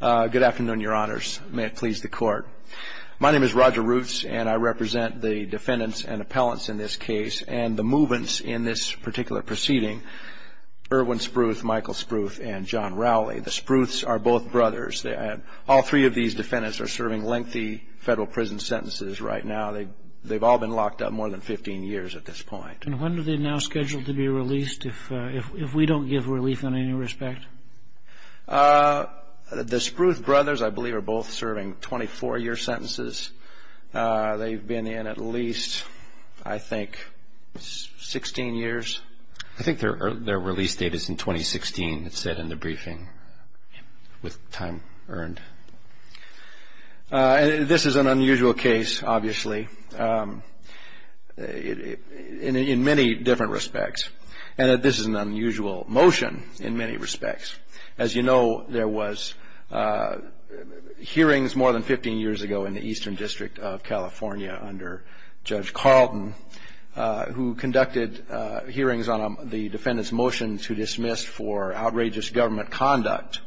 Good afternoon, your honors. May it please the court. My name is Roger Roots and I represent the defendants and appellants in this case and the movants in this particular proceeding, Erwin Spruth, Michael Spruth, and John Rowley. The Spruths are both brothers. All three of these defendants are serving lengthy federal prison sentences right now. They've all been locked up more than 15 years at this point. And when are they now scheduled to be released if we don't give relief in any respect? The Spruth brothers, I believe, are both serving 24-year sentences. They've been in at least, I think, 16 years. I think their release date is in 2016, it said in the briefing, with time earned. This is an unusual case, obviously, in many different respects. And this is an unusual motion in many respects. As you know, there was hearings more than 15 years ago in the Eastern District of California under Judge Carlton who conducted hearings on the defendant's motion to dismiss for outrageous government conduct.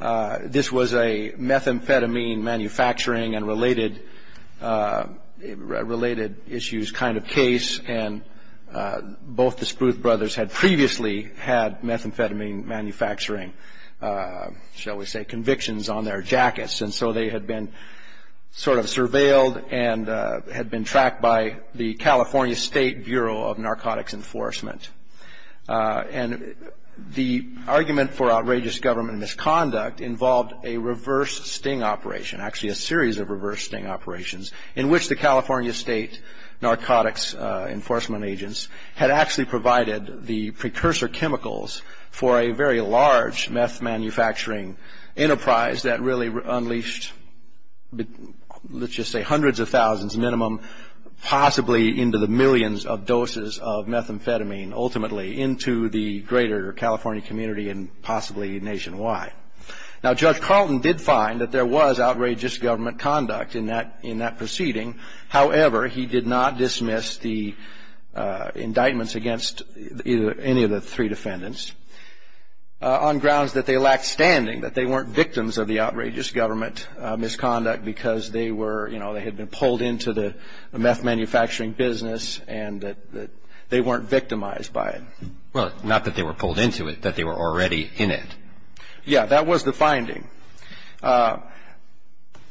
This was a methamphetamine manufacturing and related issues kind of case. And both the Spruth brothers had previously had methamphetamine manufacturing, shall we say, convictions on their jackets. And so they had been sort of surveilled and had been tracked by the California State Bureau of Narcotics Enforcement. And the argument for outrageous government misconduct involved a reverse sting operation, actually a series of reverse sting operations, in which the California State Narcotics Enforcement agents had actually provided the precursor chemicals for a very large meth manufacturing enterprise that really unleashed, let's just say, hundreds of thousands minimum, possibly into the millions of doses of methamphetamine, ultimately, into the greater California community and possibly nationwide. Now, Judge Carlton did find that there was outrageous government conduct in that proceeding. However, he did not dismiss the indictments against any of the three defendants on grounds that they lacked standing, that they weren't victims of the outrageous government misconduct because they were, you know, they had been pulled into the meth manufacturing business and that they weren't victimized by it. Well, not that they were pulled into it, that they were already in it. Yeah, that was the finding.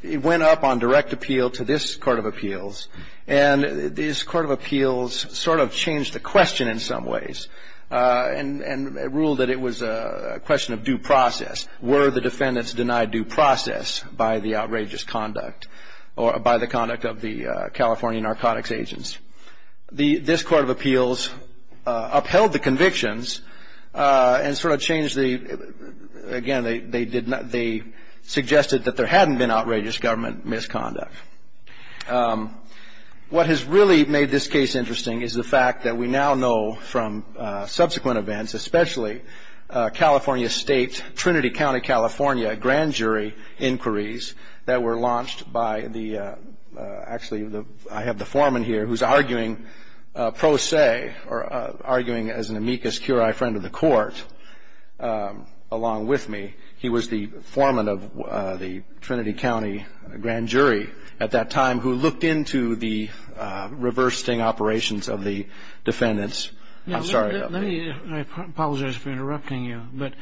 It went up on direct appeal to this Court of Appeals, and this Court of Appeals sort of changed the question in some ways and ruled that it was a question of due process. Were the defendants denied due process by the outrageous conduct or by the conduct of the California narcotics agents? This Court of Appeals upheld the convictions and sort of changed the, again, they suggested that there hadn't been outrageous government misconduct. What has really made this case interesting is the fact that we now know from subsequent events, especially California State, Trinity County, California, grand jury inquiries that were launched by the, actually I have the foreman here who's arguing pro se or arguing as an amicus curiae friend of the court along with me. He was the foreman of the Trinity County grand jury at that time who looked into the reverse sting operations of the defendants. I'm sorry. Let me, I apologize for interrupting you, but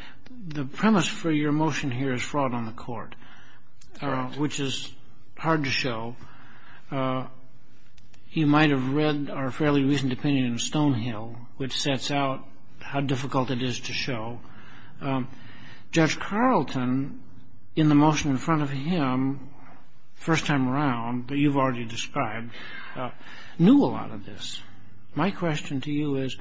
the premise for your motion here is fraud on the court, which is hard to show. You might have read our fairly recent opinion of Stonehill, which sets out how difficult it is to show. Judge Carlton, in the motion in front of him, first time around, but you've already described, knew a lot of this. My question to you is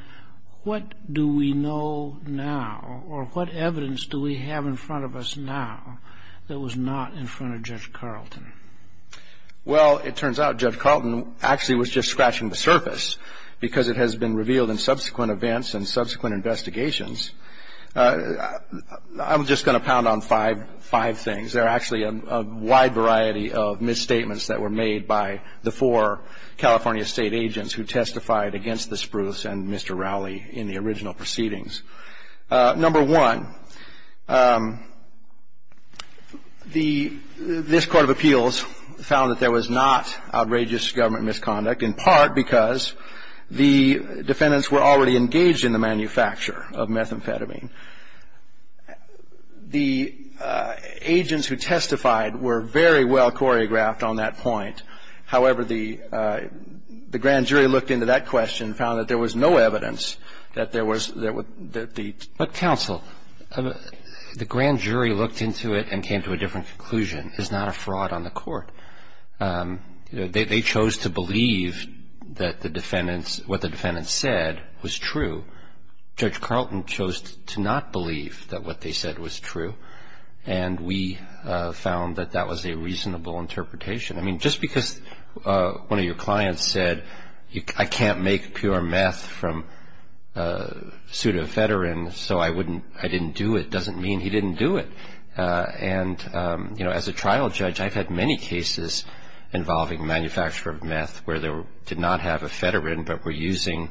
what do we know now or what evidence do we have in front of us now that was not in front of Judge Carlton? Well, it turns out Judge Carlton actually was just scratching the surface because it has been revealed in subsequent events and subsequent investigations. I'm just going to pound on five things. There are actually a wide variety of misstatements that were made by the four California state agents who testified against the Spruce and Mr. Rowley in the original proceedings. Number one, this court of appeals found that there was not outrageous government misconduct, in part because the defendants were already engaged in the manufacture of methamphetamine. The agents who testified were very well choreographed on that point. However, the grand jury looked into that question and found that there was no evidence that there was the ---- But, counsel, the grand jury looked into it and came to a different conclusion. It's not a fraud on the court. They chose to believe that the defendants, what the defendants said was true. Judge Carlton chose to not believe that what they said was true. And we found that that was a reasonable interpretation. I mean, just because one of your clients said, I can't make pure meth from pseudoephedrine, so I didn't do it, doesn't mean he didn't do it. And, you know, as a trial judge, I've had many cases involving manufacture of meth where they did not have ephedrine but were using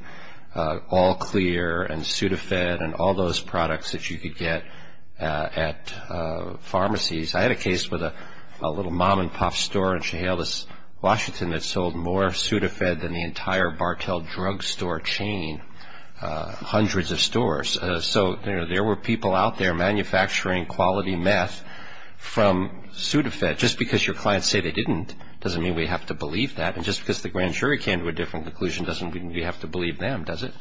all clear and pseudoephedrine and all those products that you could get at pharmacies. I had a case with a little mom-and-pop store in Chehalis, Washington, that sold more pseudoephedrine than the entire Bartell drugstore chain, hundreds of stores. So, you know, there were people out there manufacturing quality meth from pseudoephedrine. Just because your clients say they didn't doesn't mean we have to believe that. And just because the grand jury came to a different conclusion doesn't mean we have to believe them, does it?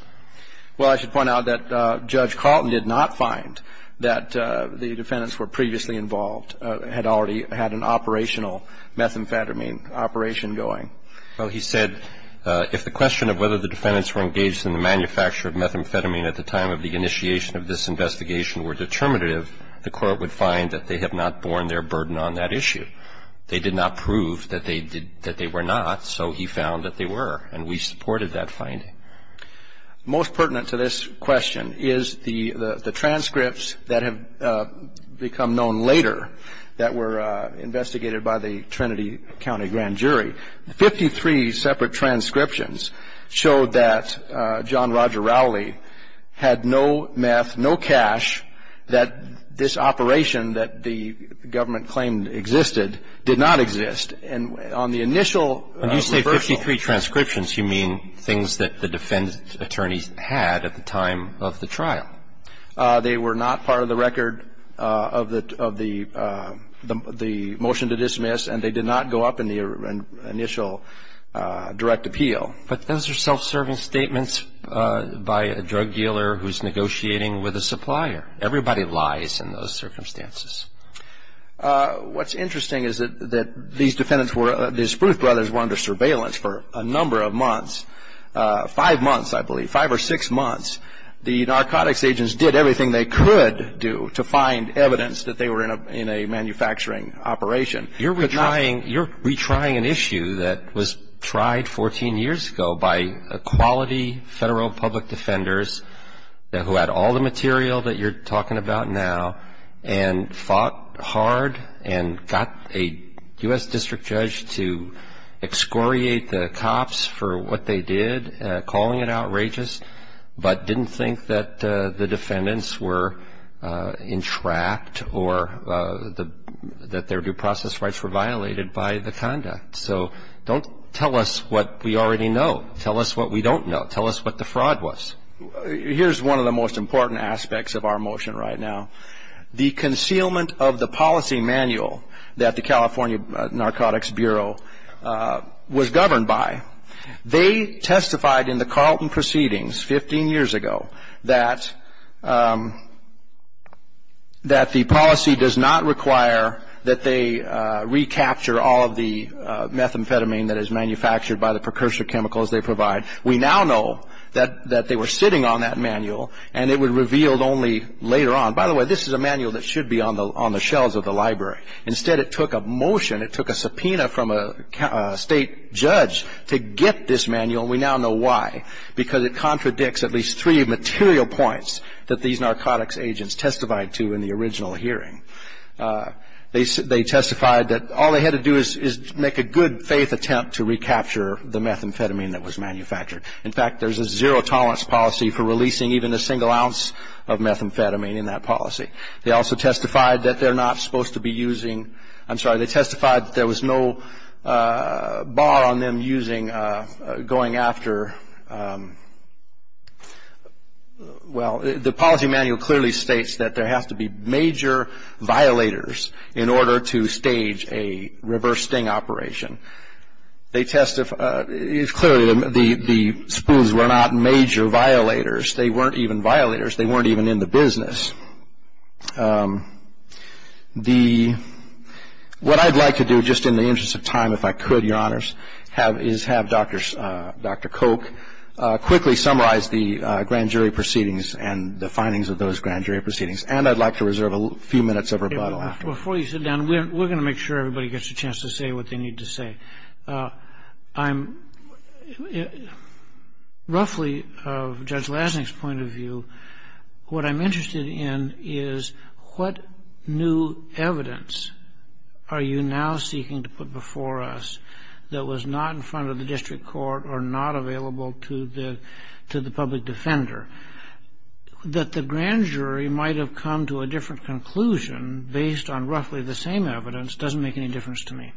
Well, I should point out that Judge Carlton did not find that the defendants were previously involved, had already had an operational methamphetamine operation going. Well, he said if the question of whether the defendants were engaged in the manufacture of methamphetamine at the time of the initiation of this investigation were determinative, the Court would find that they have not borne their burden on that issue. They did not prove that they were not, so he found that they were, and we supported that finding. Most pertinent to this question is the transcripts that have become known later that were investigated by the Trinity County Grand Jury. Fifty-three separate transcriptions showed that John Roger Rowley had no meth, no cash, that this operation that the government claimed existed did not exist. And on the initial reversal of the transcripts, When you say 53 transcriptions, you mean things that the defendant's attorneys had at the time of the trial. They were not part of the record of the motion to dismiss, and they did not go up in the initial direct appeal. But those are self-serving statements by a drug dealer who's negotiating with a supplier. Everybody lies in those circumstances. What's interesting is that these defendants were under surveillance for a number of months, five months, I believe, five or six months. The narcotics agents did everything they could do to find evidence that they were in a manufacturing operation. You're retrying an issue that was tried 14 years ago by quality federal public defenders who had all the material that you're talking about now and fought hard and got a U.S. district judge to excoriate the cops for what they did, calling it outrageous, but didn't think that the defendants were entrapped or that their due process rights were violated by the conduct. So don't tell us what we already know. Tell us what we don't know. Tell us what the fraud was. Here's one of the most important aspects of our motion right now. The concealment of the policy manual that the California Narcotics Bureau was governed by, they testified in the Carlton proceedings 15 years ago that the policy does not require that they recapture all of the methamphetamine that is manufactured by the precursor chemicals they provide. We now know that they were sitting on that manual, and it was revealed only later on. By the way, this is a manual that should be on the shelves of the library. Instead, it took a motion, it took a subpoena from a state judge to get this manual, and we now know why, because it contradicts at least three material points that these narcotics agents testified to in the original hearing. They testified that all they had to do is make a good-faith attempt to recapture the methamphetamine that was manufactured. In fact, there's a zero-tolerance policy for releasing even a single ounce of methamphetamine in that policy. They also testified that they're not supposed to be using – I'm sorry, they testified that there was no bar on them using – going after – well, the policy manual clearly states that there has to be major violators in order to stage a reverse sting operation. They testified – clearly, the Spoons were not major violators. They weren't even violators. They weren't even in the business. What I'd like to do, just in the interest of time, if I could, Your Honors, is have Dr. Koch quickly summarize the grand jury proceedings and the findings of those grand jury proceedings, and I'd like to reserve a few minutes of rebuttal afterwards. Before you sit down, we're going to make sure everybody gets a chance to say what they need to say. I'm – roughly, of Judge Lasnik's point of view, what I'm interested in is what new evidence are you now seeking to put before us that was not in front of the district court or not available to the public defender, that the grand jury might have come to a different conclusion based on roughly the same evidence doesn't make any difference to me.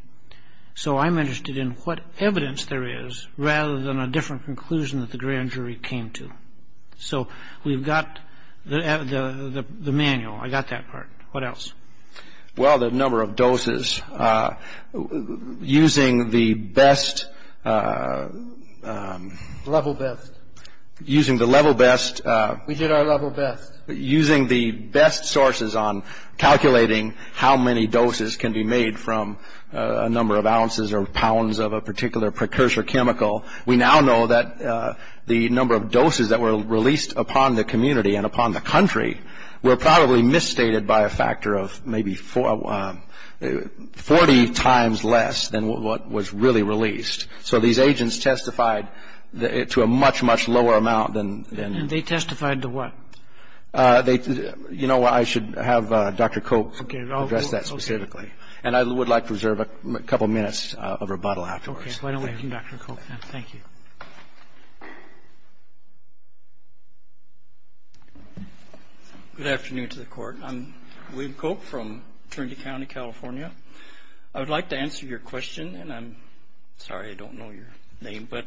So I'm interested in what evidence there is rather than a different conclusion that the grand jury came to. So we've got the manual. I got that part. What else? Well, the number of doses. Using the best – Level best. Using the level best – We did our level best. Using the best sources on calculating how many doses can be made from a number of ounces or pounds of a particular precursor chemical, we now know that the number of doses that were released upon the community and upon the country were probably misstated by a factor of maybe 40 times less than what was really released. So these agents testified to a much, much lower amount than – And they testified to what? You know, I should have Dr. Cope address that specifically. And I would like to reserve a couple minutes of rebuttal afterwards. Okay. Thank you, Dr. Cope. Thank you. Good afternoon to the court. I'm William Cope from Trinity County, California. I would like to answer your question, and I'm sorry I don't know your name, but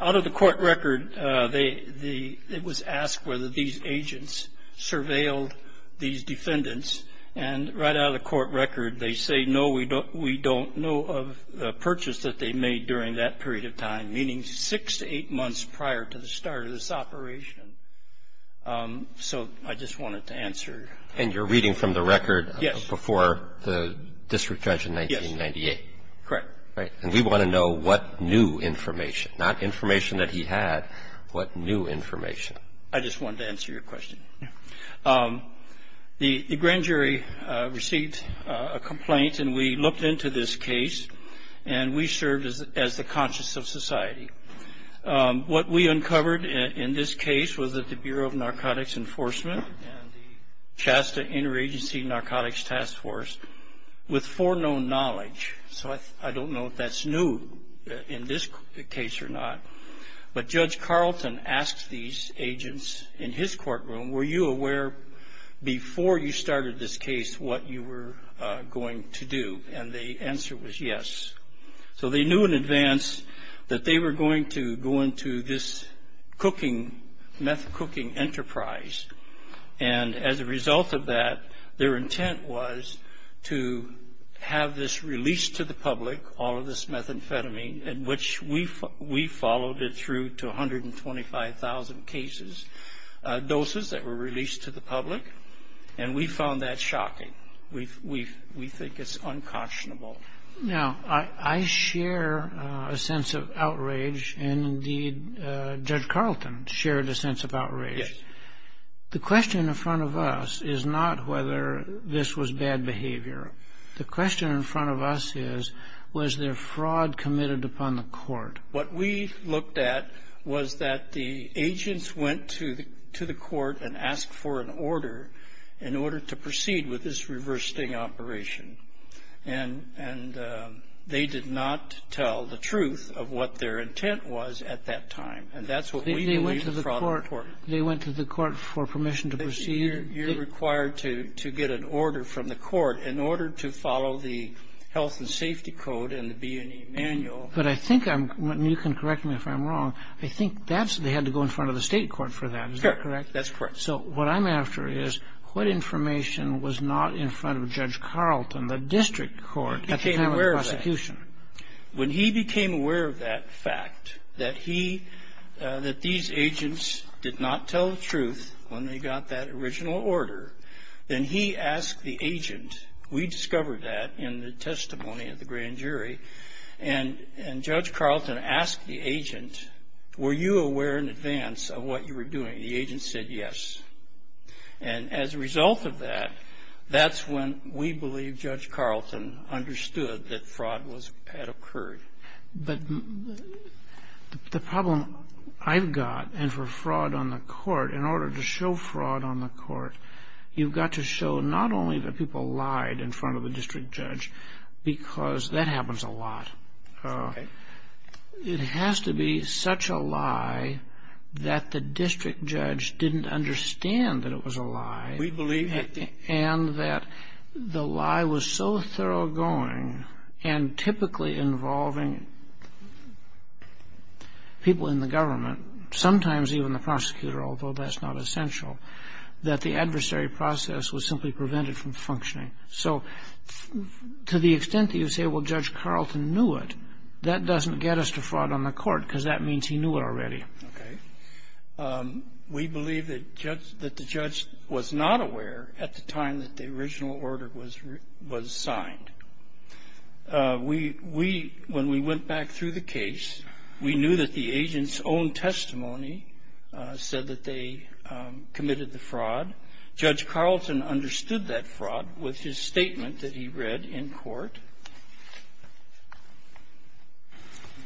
out of the court record it was asked whether these agents surveilled these defendants, and right out of the court record they say, No, we don't know of the purchase that they made during that period of time, meaning six to eight months prior to the start of this operation. So I just wanted to answer. And you're reading from the record before the district judge in 1998? Yes. Correct. Right. And we want to know what new information, not information that he had, what new information. I just wanted to answer your question. The grand jury received a complaint, and we looked into this case, and we served as the conscience of society. What we uncovered in this case was that the Bureau of Narcotics Enforcement and the Chasta Interagency Narcotics Task Force, with foreknown knowledge, so I don't know if that's new in this case or not, but Judge Carlton asked these agents in his courtroom, Were you aware before you started this case what you were going to do? And the answer was yes. So they knew in advance that they were going to go into this cooking, meth cooking enterprise, and as a result of that their intent was to have this released to the public, all of this methamphetamine, in which we followed it through to 125,000 doses that were released to the public, and we found that shocking. We think it's unconscionable. Now, I share a sense of outrage, and indeed Judge Carlton shared a sense of outrage. Yes. The question in front of us is not whether this was bad behavior. The question in front of us is, was there fraud committed upon the court? What we looked at was that the agents went to the court and asked for an order in order to proceed with this reverse sting operation, and they did not tell the truth of what their intent was at that time, and that's what we believe is fraud of the court. They went to the court for permission to proceed? You're required to get an order from the court in order to follow the health and safety code and the B&E manual. You can correct me if I'm wrong. I think they had to go in front of the state court for that. Is that correct? That's correct. So what I'm after is what information was not in front of Judge Carlton, the district court, at the time of the prosecution? When he became aware of that fact, that these agents did not tell the truth when they got that original order, then he asked the agent, we discovered that in the testimony of the grand jury, and Judge Carlton asked the agent, were you aware in advance of what you were doing? The agent said yes. And as a result of that, that's when we believe Judge Carlton understood that fraud had occurred. But the problem I've got, and for fraud on the court, in order to show fraud on the court, you've got to show not only that people lied in front of the district judge, because that happens a lot. It has to be such a lie that the district judge didn't understand that it was a lie. We believe that. And that the lie was so thoroughgoing and typically involving people in the government, sometimes even the prosecutor, although that's not essential, that the adversary process was simply prevented from functioning. So to the extent that you say, well, Judge Carlton knew it, that doesn't get us to fraud on the court because that means he knew it already. Okay. We believe that the judge was not aware at the time that the original order was signed. When we went back through the case, we knew that the agent's own testimony said that they committed the fraud. Judge Carlton understood that fraud with his statement that he read in court.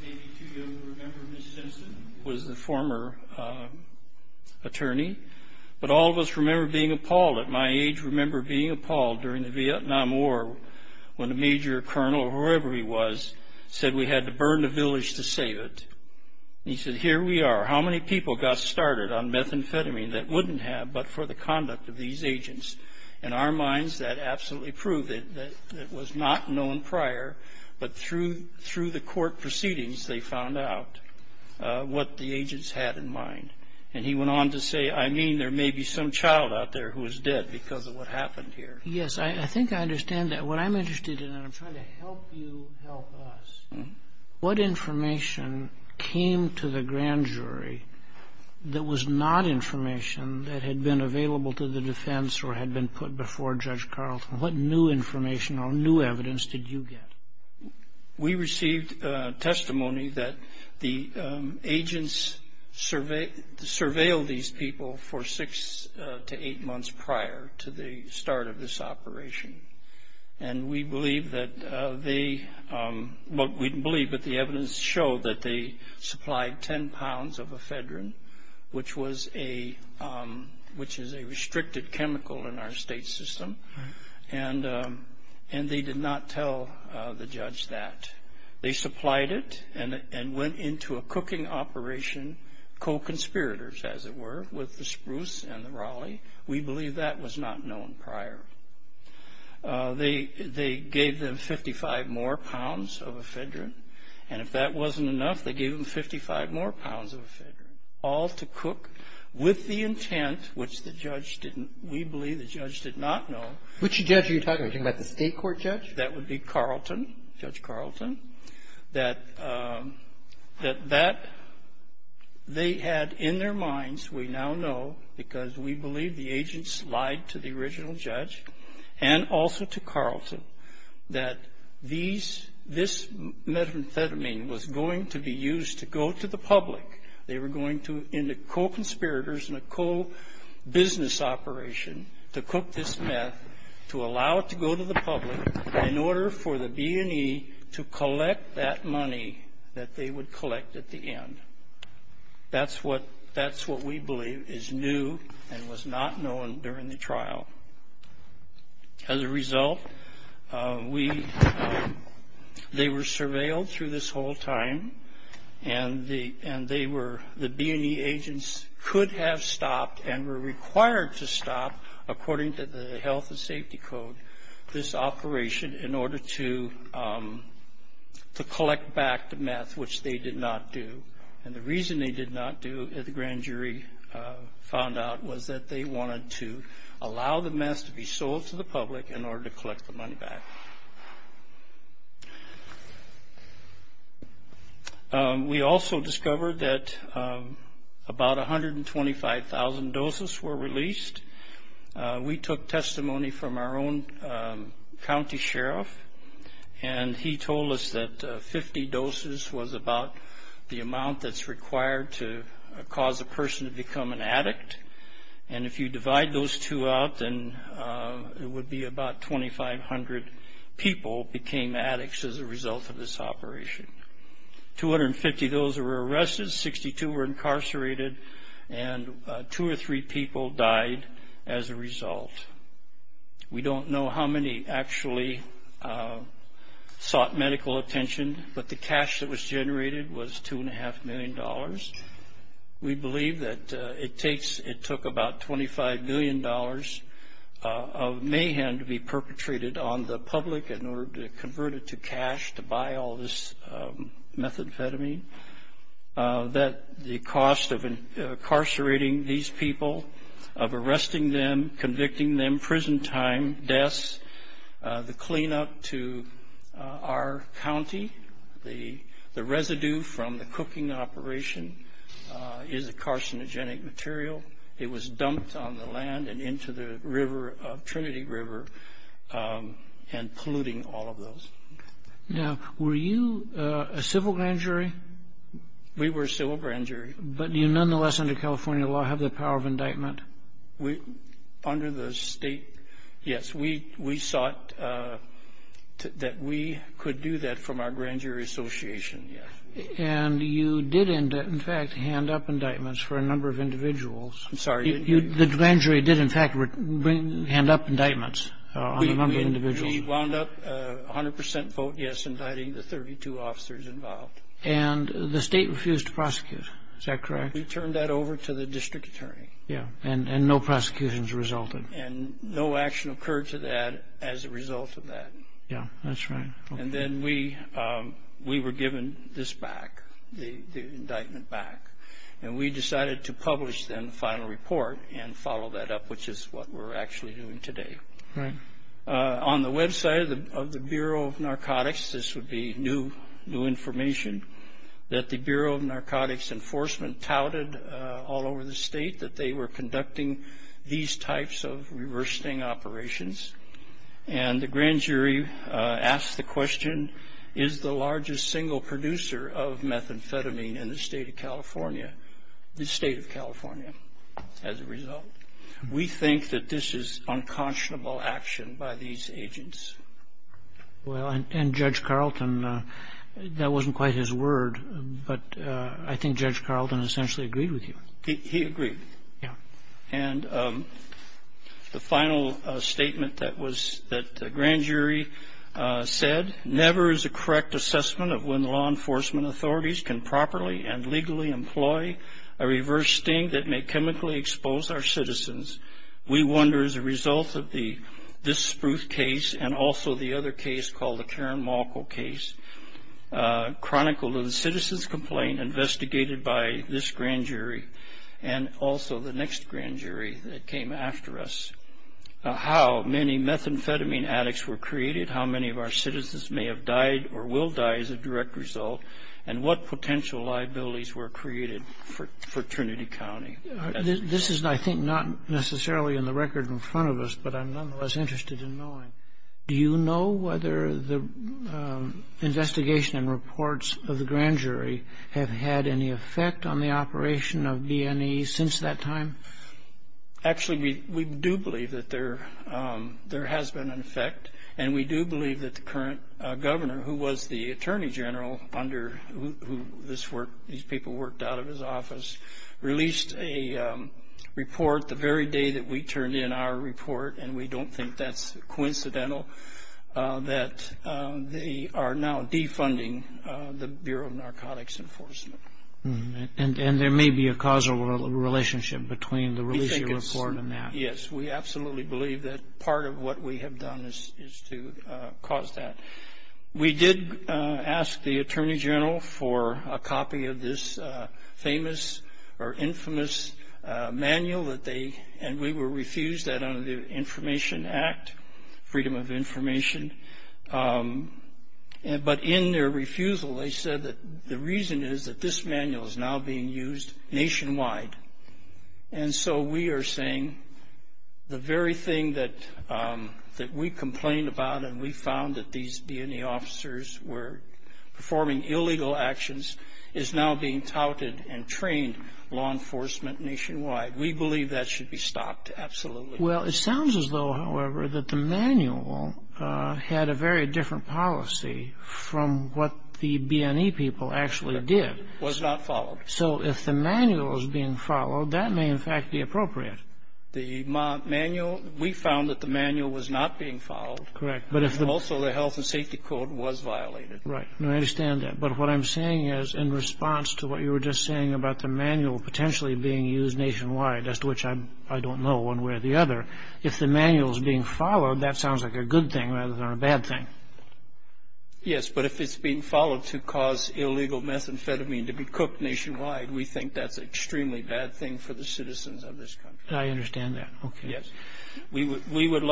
Okay. You may be too young to remember Ms. Simpson was the former attorney, but all of us remember being appalled at my age, remember being appalled during the Vietnam War when a major colonel or whoever he was said we had to burn the village to save it. He said, here we are. How many people got started on methamphetamine that wouldn't have but for the conduct of these agents? In our minds, that absolutely proved it. It was not known prior, but through the court proceedings, they found out what the agents had in mind. And he went on to say, I mean, there may be some child out there who is dead because of what happened here. Yes. I think I understand that. What I'm interested in, and I'm trying to help you help us, what information came to the grand jury that was not information that had been available to the defense or had been put before Judge Carlton? What new information or new evidence did you get? We received testimony that the agents surveilled these people for six to eight months prior to the start of this operation. And we believe that the evidence showed that they supplied 10 pounds of ephedrine, which is a restricted chemical in our state system, and they did not tell the judge that. They supplied it and went into a cooking operation, co-conspirators, as it were, with the Spruce and the Raleigh. We believe that was not known prior. They gave them 55 more pounds of ephedrine, and if that wasn't enough, they gave them 55 more pounds of ephedrine, all to cook with the intent, which the judge didn't, we believe the judge did not know. Which judge are you talking about? Are you talking about the state court judge? That would be Carlton, Judge Carlton. That they had in their minds, we now know because we believe the agents lied to the original judge and also to Carlton, that this methamphetamine was going to be used to go to the public. They were going to, in the co-conspirators and a co-business operation, to cook this meth, to allow it to go to the public in order for the B&E to collect that money that they would collect at the end. That's what we believe is new and was not known during the trial. As a result, they were surveilled through this whole time, and the B&E agents could have stopped and were required to stop, according to the Health and Safety Code, this operation in order to collect back the meth, which they did not do. And the reason they did not do, the grand jury found out, was that they wanted to allow the meth to be sold to the public in order to collect the money back. We also discovered that about 125,000 doses were released. We took testimony from our own county sheriff, and he told us that 50 doses was about the amount that's required to cause a person to become an addict. And if you divide those two out, then it would be about 2,500 people became addicts as a result of this operation. 250 of those were arrested, 62 were incarcerated, and two or three people died as a result. We don't know how many actually sought medical attention, but the cash that was generated was $2.5 million. We believe that it took about $25 million of mayhem to be perpetrated on the public in order to convert it to cash to buy all this methamphetamine. The cost of incarcerating these people, of arresting them, convicting them, prison time, deaths, the cleanup to our county, the residue from the cooking operation is a carcinogenic material. It was dumped on the land and into the river, Trinity River, and polluting all of those. Now, were you a civil grand jury? We were a civil grand jury. But you nonetheless under California law have the power of indictment? Under the state, yes. We sought that we could do that from our grand jury association, yes. And you did, in fact, hand up indictments for a number of individuals. I'm sorry. The grand jury did, in fact, hand up indictments on a number of individuals. We wound up 100% vote yes, indicting the 32 officers involved. And the state refused to prosecute, is that correct? We turned that over to the district attorney. Yeah, and no prosecutions resulted. And no action occurred to that as a result of that. Yeah, that's right. And then we were given this back, the indictment back. And we decided to publish then the final report and follow that up, which is what we're actually doing today. Right. On the website of the Bureau of Narcotics, this would be new information, that the Bureau of Narcotics Enforcement touted all over the state that they were conducting these types of reversing operations. And the grand jury asked the question, is the largest single producer of methamphetamine in the state of California? The state of California, as a result. We think that this is unconscionable action by these agents. Well, and Judge Carlton, that wasn't quite his word, but I think Judge Carlton essentially agreed with you. He agreed. Yeah. And the final statement that the grand jury said, never is a correct assessment of when law enforcement authorities can properly and legally employ a reverse sting that may chemically expose our citizens. We wonder, as a result of this Spruce case and also the other case called the Karen Malko case, chronicled in the citizen's complaint investigated by this grand jury and also the next grand jury that came after us, how many methamphetamine addicts were created, how many of our citizens may have died or will die as a direct result, and what potential liabilities were created for Trinity County. This is, I think, not necessarily in the record in front of us, but I'm nonetheless interested in knowing, do you know whether the investigation and reports of the grand jury have had any effect on the operation of B&E since that time? Actually, we do believe that there has been an effect, and we do believe that the current governor, who was the attorney general under who these people worked out of his office, released a report the very day that we turned in our report, and we don't think that's coincidental that they are now defunding the Bureau of Narcotics Enforcement. And there may be a causal relationship between the release of the report and that. Yes, we absolutely believe that part of what we have done is to cause that. We did ask the attorney general for a copy of this famous or infamous manual, and we were refused that under the Information Act, Freedom of Information. But in their refusal, they said that the reason is that this manual is now being used nationwide. And so we are saying the very thing that we complained about and we found that these B&E officers were performing illegal actions is now being touted and trained law enforcement nationwide. We believe that should be stopped absolutely. Well, it sounds as though, however, that the manual had a very different policy from what the B&E people actually did. Was not followed. So if the manual is being followed, that may, in fact, be appropriate. The manual, we found that the manual was not being followed. Correct. Also, the health and safety code was violated. Right. I understand that. But what I'm saying is in response to what you were just saying about the manual potentially being used nationwide, as to which I don't know one way or the other, if the manual is being followed, that sounds like a good thing rather than a bad thing. Yes, but if it's being followed to cause illegal methamphetamine to be cooked nationwide, we think that's an extremely bad thing for the citizens of this country. I understand that. Yes. We would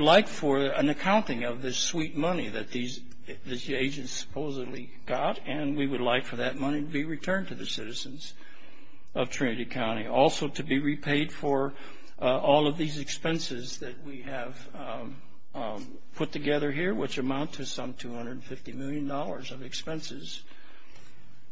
like for an accounting of this sweet money that these agents supposedly got, and we would like for that money to be returned to the citizens of Trinity County. Also, to be repaid for all of these expenses that we have put together here, which amount to some $250 million of expenses.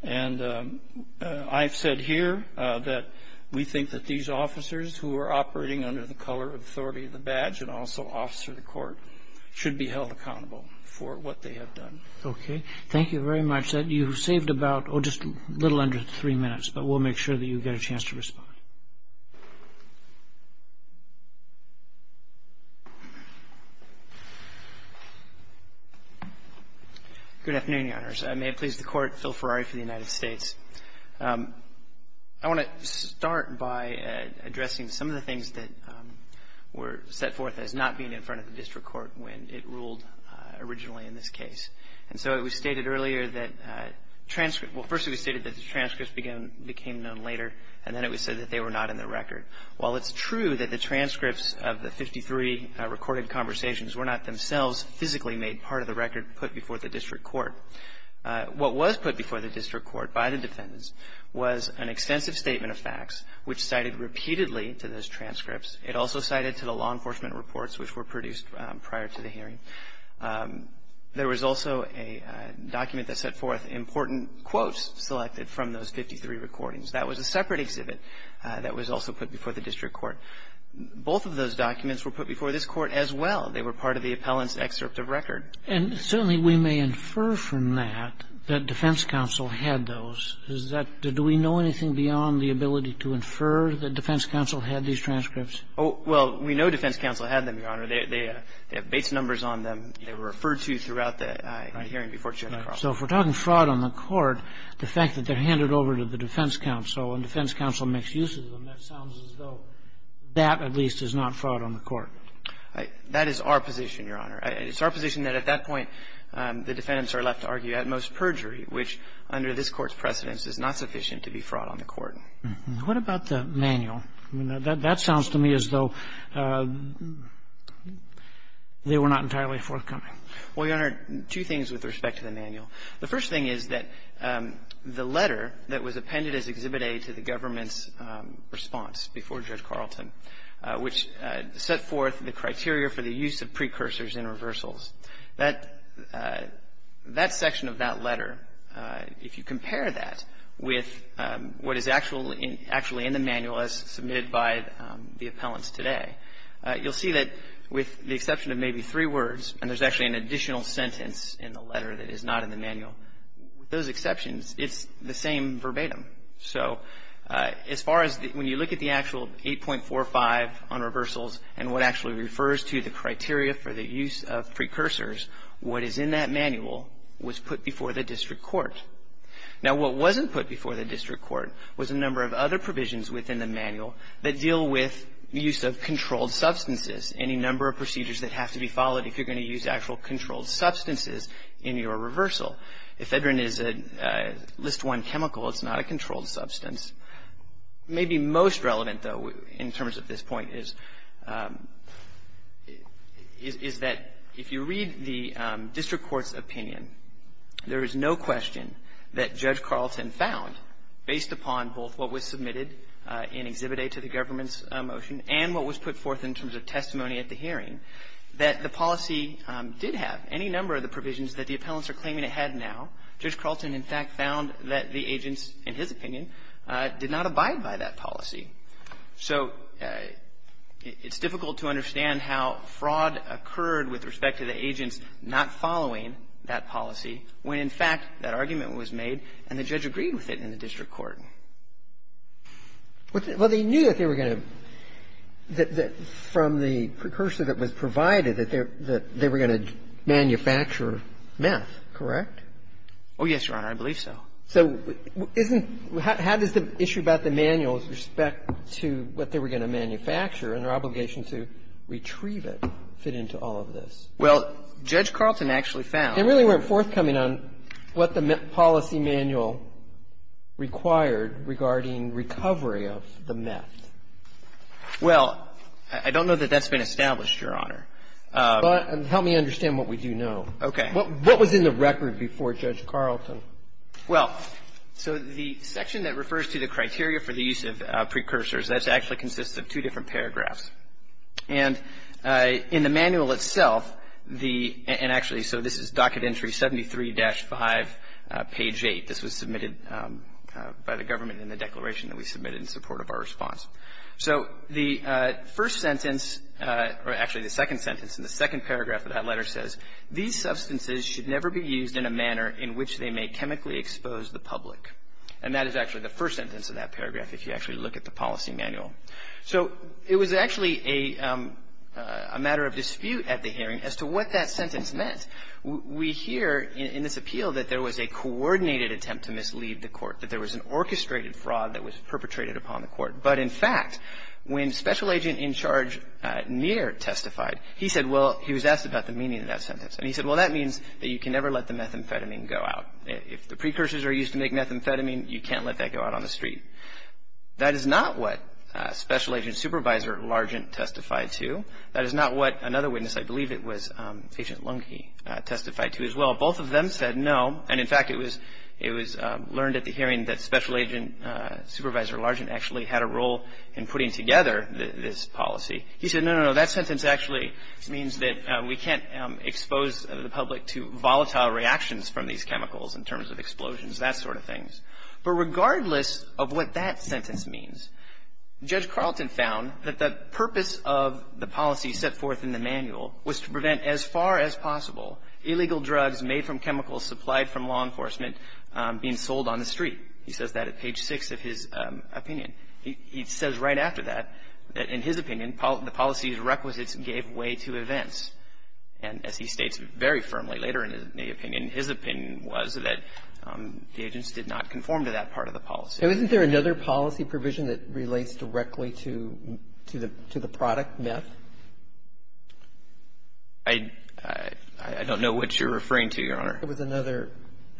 And I've said here that we think that these officers who are operating under the color of authority of the badge and also officer of the court should be held accountable for what they have done. Okay. Thank you very much. You've saved about, oh, just a little under three minutes, but we'll make sure that you get a chance to respond. Good afternoon, Your Honors. May it please the Court, Phil Ferrari for the United States. I want to start by addressing some of the things that were set forth as not being in front of the district court when it ruled originally in this case. And so it was stated earlier that transcripts, well, first it was stated that the transcripts became known later, and then it was said that they were not in the record. While it's true that the transcripts of the 53 recorded conversations were not themselves physically made part of the record put before the district court, what was put before the district court by the defendants was an extensive statement of facts, which cited repeatedly to those transcripts. It also cited to the law enforcement reports which were produced prior to the hearing. There was also a document that set forth important quotes selected from those 53 recordings. That was a separate exhibit that was also put before the district court. Both of those documents were put before this court as well. They were part of the appellant's excerpt of record. And certainly we may infer from that that defense counsel had those. Is that, do we know anything beyond the ability to infer that defense counsel had these transcripts? No, Your Honor. They have base numbers on them. They were referred to throughout the hearing before Judge Cross. So if we're talking fraud on the court, the fact that they're handed over to the defense counsel and defense counsel makes use of them, that sounds as though that at least is not fraud on the court. That is our position, Your Honor. It's our position that at that point the defendants are left to argue at most perjury, which under this court's precedence is not sufficient to be fraud on the court. What about the manual? I mean, that sounds to me as though they were not entirely forthcoming. Well, Your Honor, two things with respect to the manual. The first thing is that the letter that was appended as Exhibit A to the government's response before Judge Carlton, which set forth the criteria for the use of precursors in reversals, that section of that letter, if you compare that with what is actually in the manual as submitted by the appellants today, you'll see that with the exception of maybe three words, and there's actually an additional sentence in the letter that is not in the manual, with those exceptions, it's the same verbatim. So as far as when you look at the actual 8.45 on reversals and what actually refers to the criteria for the use of precursors, what is in that manual was put before the district court. Now, what wasn't put before the district court was a number of other provisions within the manual that deal with the use of controlled substances, any number of procedures that have to be followed if you're going to use actual controlled substances in your reversal. Ephedrine is a list one chemical. It's not a controlled substance. Maybe most relevant, though, in terms of this point is that if you read the district court's opinion, there is no question that Judge Carlton found, based upon both what was submitted in Exhibit A to the government's motion and what was put forth in terms of testimony at the hearing, that the policy did have any number of the provisions that the appellants are claiming it had now. Judge Carlton, in fact, found that the agents, in his opinion, did not abide by that policy. So it's difficult to understand how fraud occurred with respect to the agents not following that policy when, in fact, that argument was made and the judge agreed with it in the district court. Well, they knew that they were going to, from the precursor that was provided, that they were going to manufacture meth, correct? Oh, yes, Your Honor. I believe so. So isn't — how does the issue about the manuals with respect to what they were going to manufacture and their obligation to retrieve it fit into all of this? Well, Judge Carlton actually found — They really weren't forthcoming on what the policy manual required regarding recovery of the meth. Well, I don't know that that's been established, Your Honor. Help me understand what we do know. Okay. What was in the record before Judge Carlton? Well, so the section that refers to the criteria for the use of precursors, that actually consists of two different paragraphs. And in the manual itself, the — and actually, so this is docket entry 73-5, page 8. This was submitted by the government in the declaration that we submitted in support of our response. So the first sentence, or actually the second sentence in the second paragraph of that letter says, These substances should never be used in a manner in which they may chemically expose the public. And that is actually the first sentence of that paragraph, if you actually look at the policy manual. So it was actually a matter of dispute at the hearing as to what that sentence meant. We hear in this appeal that there was a coordinated attempt to mislead the court, that there was an orchestrated fraud that was perpetrated upon the court. But in fact, when Special Agent in Charge Neer testified, he said, well, he was asked about the meaning of that sentence. And he said, well, that means that you can never let the methamphetamine go out. If the precursors are used to make methamphetamine, you can't let that go out on the street. That is not what Special Agent Supervisor Largent testified to. That is not what another witness, I believe it was Agent Lunke, testified to as well. Both of them said no. And in fact, it was learned at the hearing that Special Agent Supervisor Largent actually had a role in putting together this policy. He said, no, no, no, that sentence actually means that we can't expose the public to volatile reactions from these chemicals in terms of explosions, that sort of thing. But regardless of what that sentence means, Judge Carleton found that the purpose of the policy set forth in the manual was to prevent as far as possible illegal drugs made from chemicals supplied from law enforcement being sold on the street. He says that at page 6 of his opinion. He says right after that, in his opinion, the policy's requisites gave way to events. And as he states very firmly later in the opinion, his opinion was that the agents did not conform to that part of the policy. Isn't there another policy provision that relates directly to the product meth? I don't know what you're referring to, Your Honor. There was another.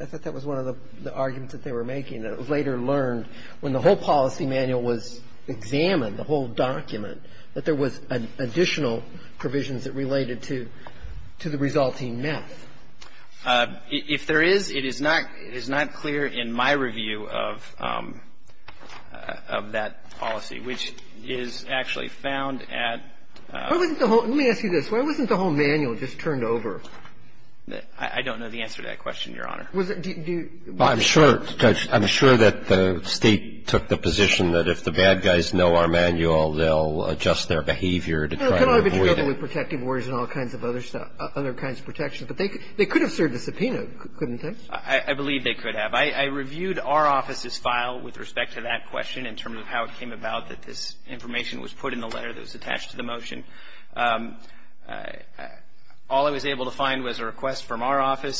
I thought that was one of the arguments that they were making. It was later learned when the whole policy manual was examined, the whole document, that there was additional provisions that related to the resulting meth. If there is, it is not clear in my review of that policy, which is actually found at the whole. Let me ask you this. Why wasn't the whole manual just turned over? I don't know the answer to that question, Your Honor. Well, I'm sure, Judge, I'm sure that the State took the position that if the bad guys know our manual, they'll adjust their behavior to try to avoid it. Well, it could only be driven with protective orders and all kinds of other stuff, other kinds of protections. But they could have served a subpoena, couldn't they? I believe they could have. I reviewed our office's file with respect to that question in terms of how it came about that this information was put in the letter that was attached to the motion. Was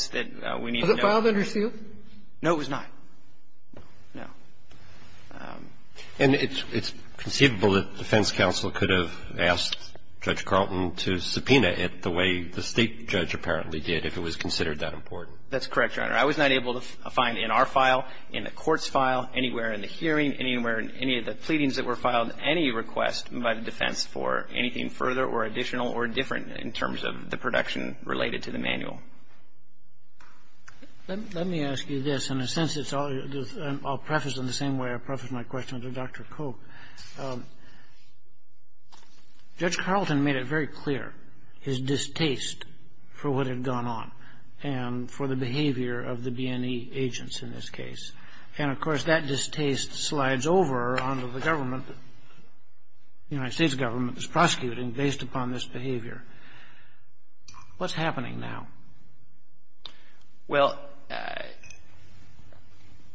it filed under seal? No, it was not. No. And it's conceivable that defense counsel could have asked Judge Carlton to subpoena it the way the State judge apparently did, if it was considered that important. That's correct, Your Honor. I was not able to find in our file, in the court's file, anywhere in the hearing, anywhere in any of the pleadings that were filed, any request by the defense for anything further or additional or different in terms of the production related to the manual. Let me ask you this. In a sense, I'll preface in the same way I prefaced my question to Dr. Coke. Judge Carlton made it very clear his distaste for what had gone on and for the behavior of the B&E agents in this case. And, of course, that distaste slides over onto the government, the United States government that's prosecuting based upon this behavior. What's happening now? Well,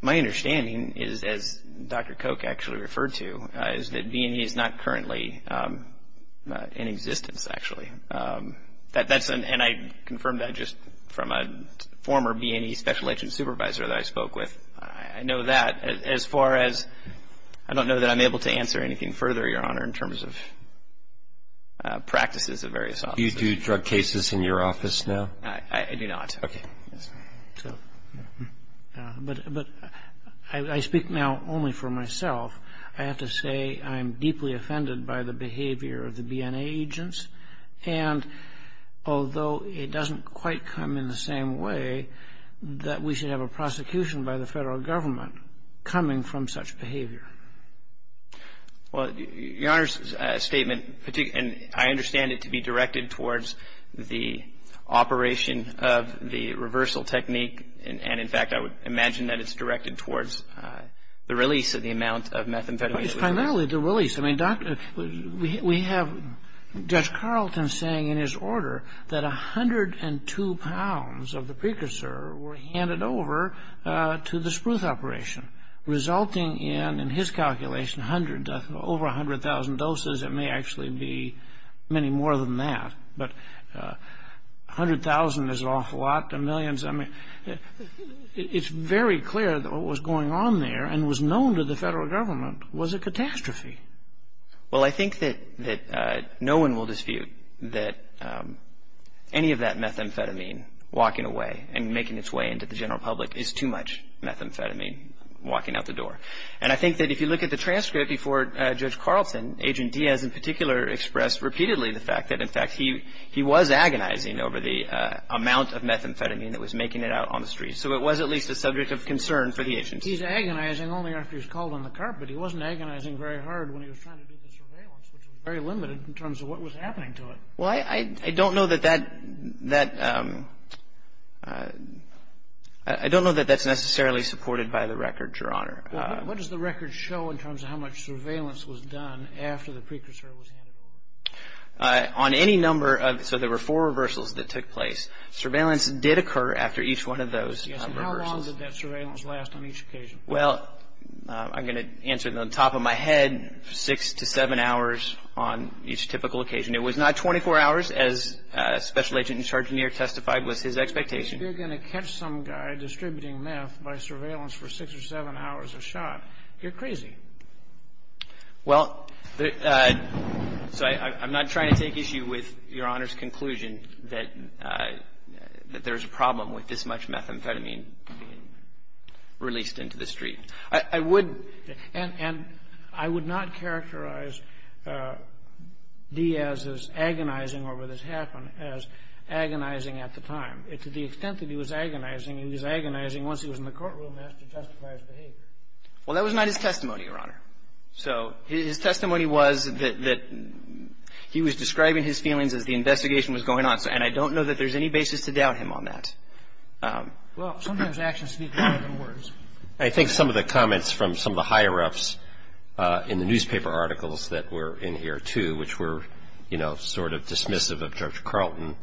my understanding is, as Dr. Coke actually referred to, is that B&E is not currently in existence, actually. And I confirmed that just from a former B&E special agent supervisor that I spoke with. I know that as far as, I don't know that I'm able to answer anything further, Your Honor, in terms of practices of various officers. Do you do drug cases in your office now? I do not. Okay. But I speak now only for myself. I have to say I'm deeply offended by the behavior of the B&A agents. And although it doesn't quite come in the same way, that we should have a prosecution by the federal government coming from such behavior. Well, Your Honor's statement, and I understand it to be directed towards the operation of the reversal technique. And, in fact, I would imagine that it's directed towards the release of the amount of methamphetamine. Well, it's primarily the release. I mean, we have Judge Carlton saying in his order that 102 pounds of the precursor were handed over to the spruce operation, resulting in, in his calculation, over 100,000 doses. It may actually be many more than that. But 100,000 is an awful lot to millions. I mean, it's very clear that what was going on there and was known to the federal government was a catastrophe. Well, I think that no one will dispute that any of that methamphetamine walking away and making its way into the general public is too much methamphetamine walking out the door. And I think that if you look at the transcript before Judge Carlton, Agent Diaz in particular expressed repeatedly the fact that, in fact, he was agonizing over the amount of methamphetamine that was making it out on the streets. So it was at least a subject of concern for the agents. He's agonizing only after he's called on the carpet. He wasn't agonizing very hard when he was trying to do the surveillance, which was very limited in terms of what was happening to it. Well, I don't know that that's necessarily supported by the record, Your Honor. What does the record show in terms of how much surveillance was done after the precursor was handed over? On any number of – so there were four reversals that took place. Surveillance did occur after each one of those reversals. Yes, and how long did that surveillance last on each occasion? Well, I'm going to answer it on top of my head, six to seven hours on each typical occasion. It was not 24 hours, as Special Agent and Sergeant Neer testified was his expectation. If you're going to catch some guy distributing meth by surveillance for six or seven hours a shot, you're crazy. Well, so I'm not trying to take issue with Your Honor's conclusion that there's a problem with this much methamphetamine being released into the street. I would – And I would not characterize Diaz's agonizing over this happen as agonizing at the time. To the extent that he was agonizing, he was agonizing once he was in the courtroom as to justify his behavior. Well, that was not his testimony, Your Honor. So his testimony was that he was describing his feelings as the investigation was going on. And I don't know that there's any basis to doubt him on that. Well, sometimes actions speak louder than words. I think some of the comments from some of the higher-ups in the newspaper articles that were in here, too, which were, you know, sort of dismissive of Judge Carlton,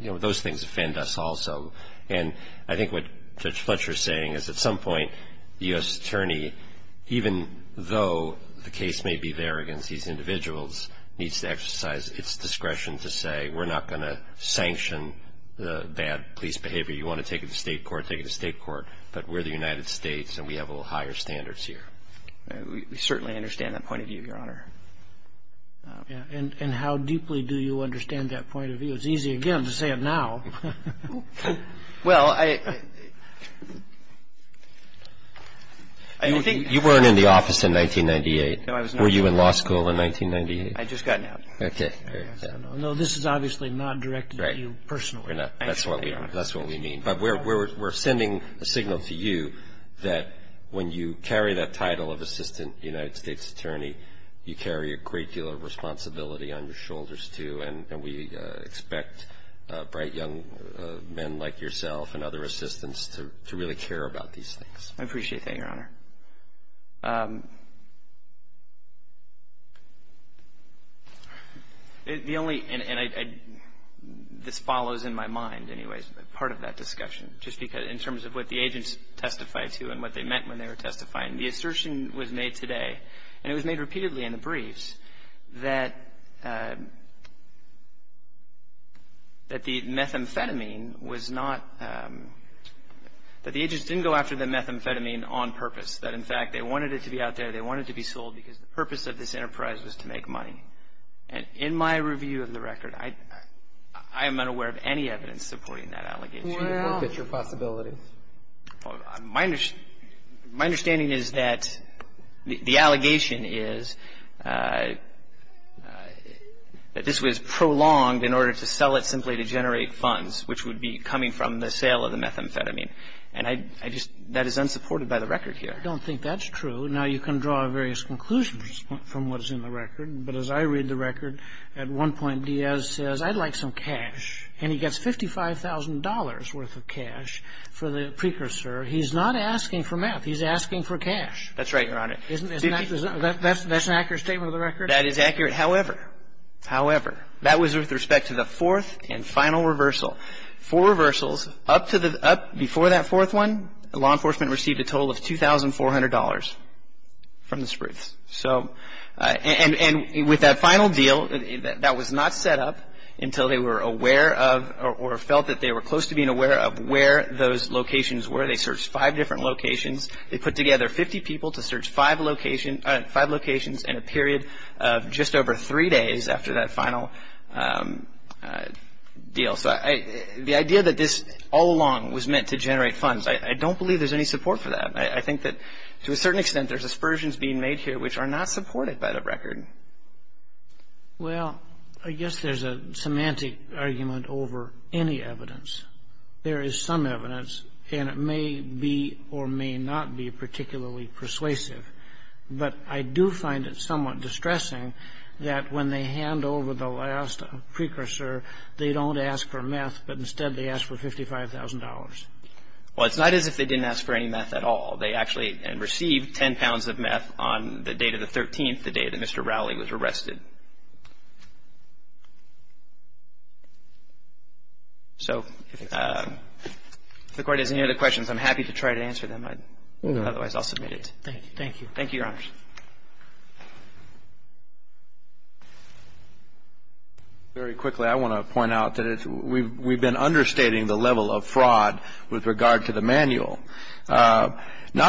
you know, those things offend us also. And I think what Judge Fletcher is saying is at some point the U.S. Attorney, even though the case may be there against these individuals, needs to exercise its discretion to say, we're not going to sanction the bad police behavior. You want to take it to state court, take it to state court. But we're the United States, and we have a little higher standards here. We certainly understand that point of view, Your Honor. And how deeply do you understand that point of view? It's easy, again, to say it now. Well, I think – You weren't in the office in 1998. No, I was not. Were you in law school in 1998? I'd just gotten out. Okay. No, this is obviously not directed at you personally. That's what we mean. But we're sending a signal to you that when you carry that title of Assistant United States Attorney, you carry a great deal of responsibility on your shoulders, too, and we expect bright young men like yourself and other assistants to really care about these things. I appreciate that, Your Honor. The only – and this follows in my mind, anyways, part of that discussion, just because in terms of what the agents testified to and what they meant when they were testifying, the assertion was made today, and it was made repeatedly in the briefs, that the methamphetamine was not – that the agents didn't go after the methamphetamine on purpose. That, in fact, they wanted it to be out there. They wanted it to be sold because the purpose of this enterprise was to make money. And in my review of the record, I am unaware of any evidence supporting that allegation. Well – Look at your possibilities. My understanding is that the allegation is that this was prolonged in order to sell it simply to generate funds, which would be coming from the sale of the methamphetamine. And I just – that is unsupported by the record here. I don't think that's true. Now, you can draw various conclusions from what is in the record, but as I read the record, at one point Diaz says, I'd like some cash, and he gets $55,000 worth of cash for the precursor. He's not asking for meth. He's asking for cash. That's right, Your Honor. Isn't that – that's an accurate statement of the record? That is accurate. However, however, that was with respect to the fourth and final reversal. Four reversals. Up to the – up before that fourth one, law enforcement received a total of $2,400 from the Spruce. So – and with that final deal, that was not set up until they were aware of or felt that they were close to being aware of where those locations were. They searched five different locations. They put together 50 people to search five locations in a period of just over three days after that final deal. So the idea that this all along was meant to generate funds, I don't believe there's any support for that. I think that to a certain extent there's aspersions being made here which are not supported by the record. Well, I guess there's a semantic argument over any evidence. There is some evidence, and it may be or may not be particularly persuasive, but I do find it somewhat distressing that when they hand over the last precursor, they don't ask for meth, but instead they ask for $55,000. Well, it's not as if they didn't ask for any meth at all. They actually received 10 pounds of meth on the date of the 13th, the day that Mr. Rowley was arrested. So if the Court has any other questions, I'm happy to try to answer them. Otherwise, I'll submit it. Thank you. Thank you, Your Honors. Very quickly, I want to point out that we've been understating the level of fraud with regard to the manual. Not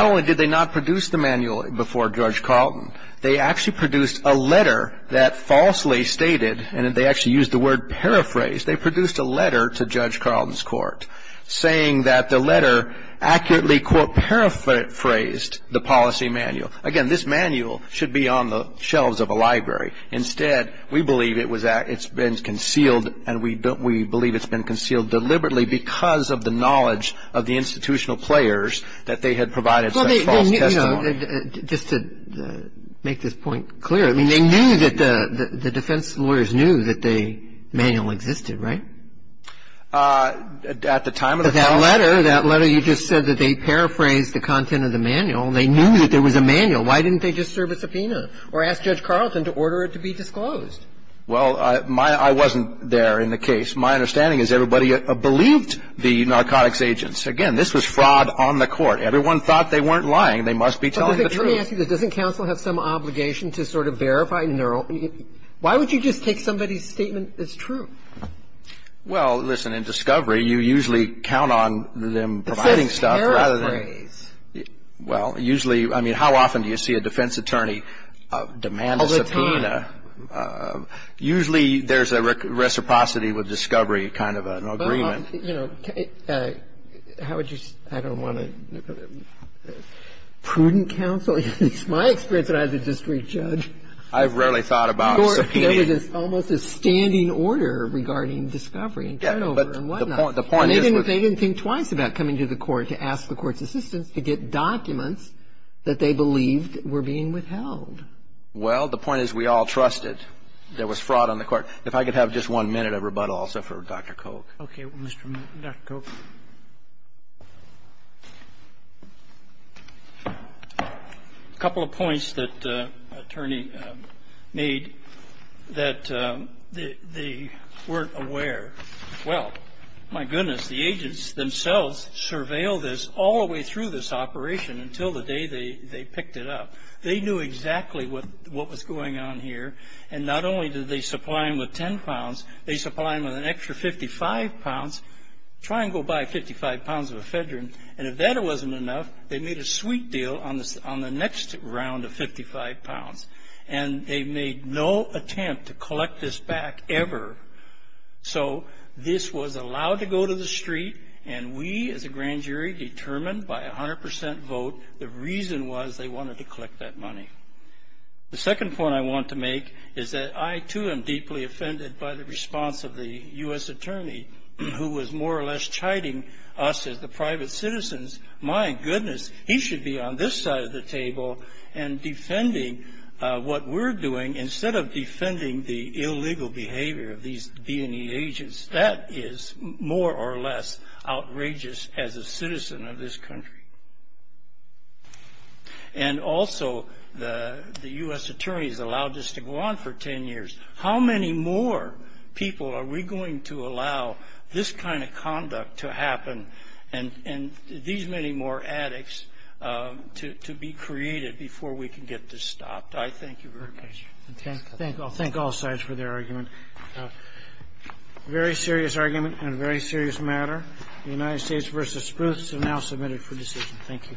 only did they not produce the manual before Judge Carlton, they actually produced a letter that falsely stated, and they actually used the word paraphrase, they produced a letter to Judge Carlton's court saying that the letter accurately quote paraphrased the policy manual. Again, this manual should be on the shelves of a library. Instead, we believe it's been concealed, and we believe it's been concealed deliberately because of the knowledge of the institutional players that they had provided such false testimony. Just to make this point clear, I mean, they knew that the defense lawyers knew that the manual existed, right? At the time of the policy. That letter, that letter, you just said that they paraphrased the content of the manual. They knew that there was a manual. Why didn't they just serve a subpoena or ask Judge Carlton to order it to be disclosed? Well, I wasn't there in the case. My understanding is everybody believed the narcotics agents. Again, this was fraud on the court. Everyone thought they weren't lying. They must be telling the truth. But let me ask you this. Doesn't counsel have some obligation to sort of verify? Why would you just take somebody's statement as true? Well, listen. In discovery, you usually count on them providing stuff rather than. It says paraphrase. Well, usually. I mean, how often do you see a defense attorney demand a subpoena? All the time. Usually there's a reciprocity with discovery kind of an agreement. How would you? I don't want to. Prudent counsel? It's my experience that I have to just re-judge. I've rarely thought about subpoena. It's almost a standing order regarding discovery and turnover and whatnot. And they didn't think twice about coming to the court to ask the court's assistance to get documents that they believed were being withheld. Well, the point is we all trusted there was fraud on the court. If I could have just one minute of rebuttal also for Dr. Coke. Okay. Dr. Coke. A couple of points that attorney made that they weren't aware. Well, my goodness, the agents themselves surveilled this all the way through this operation until the day they picked it up. They knew exactly what was going on here. And not only did they supply him with ten pounds, they supplied him with an extra 55 pounds. Try and go buy 55 pounds of ephedrine. And if that wasn't enough, they made a sweet deal on the next round of 55 pounds. And they made no attempt to collect this back ever. So this was allowed to go to the street. And we as a grand jury determined by 100% vote the reason was they wanted to collect that money. The second point I want to make is that I, too, am deeply offended by the response of the U.S. attorney, who was more or less chiding us as the private citizens. My goodness, he should be on this side of the table and defending what we're doing instead of defending the illegal behavior of these B&E agents. That is more or less outrageous as a citizen of this country. And also, the U.S. attorney has allowed this to go on for ten years. How many more people are we going to allow this kind of conduct to happen and these many more addicts to be created before we can get this stopped? I thank you very much. I thank all sides for their argument. A very serious argument and a very serious matter. The United States v. Spruce is now submitted for decision. Thank you.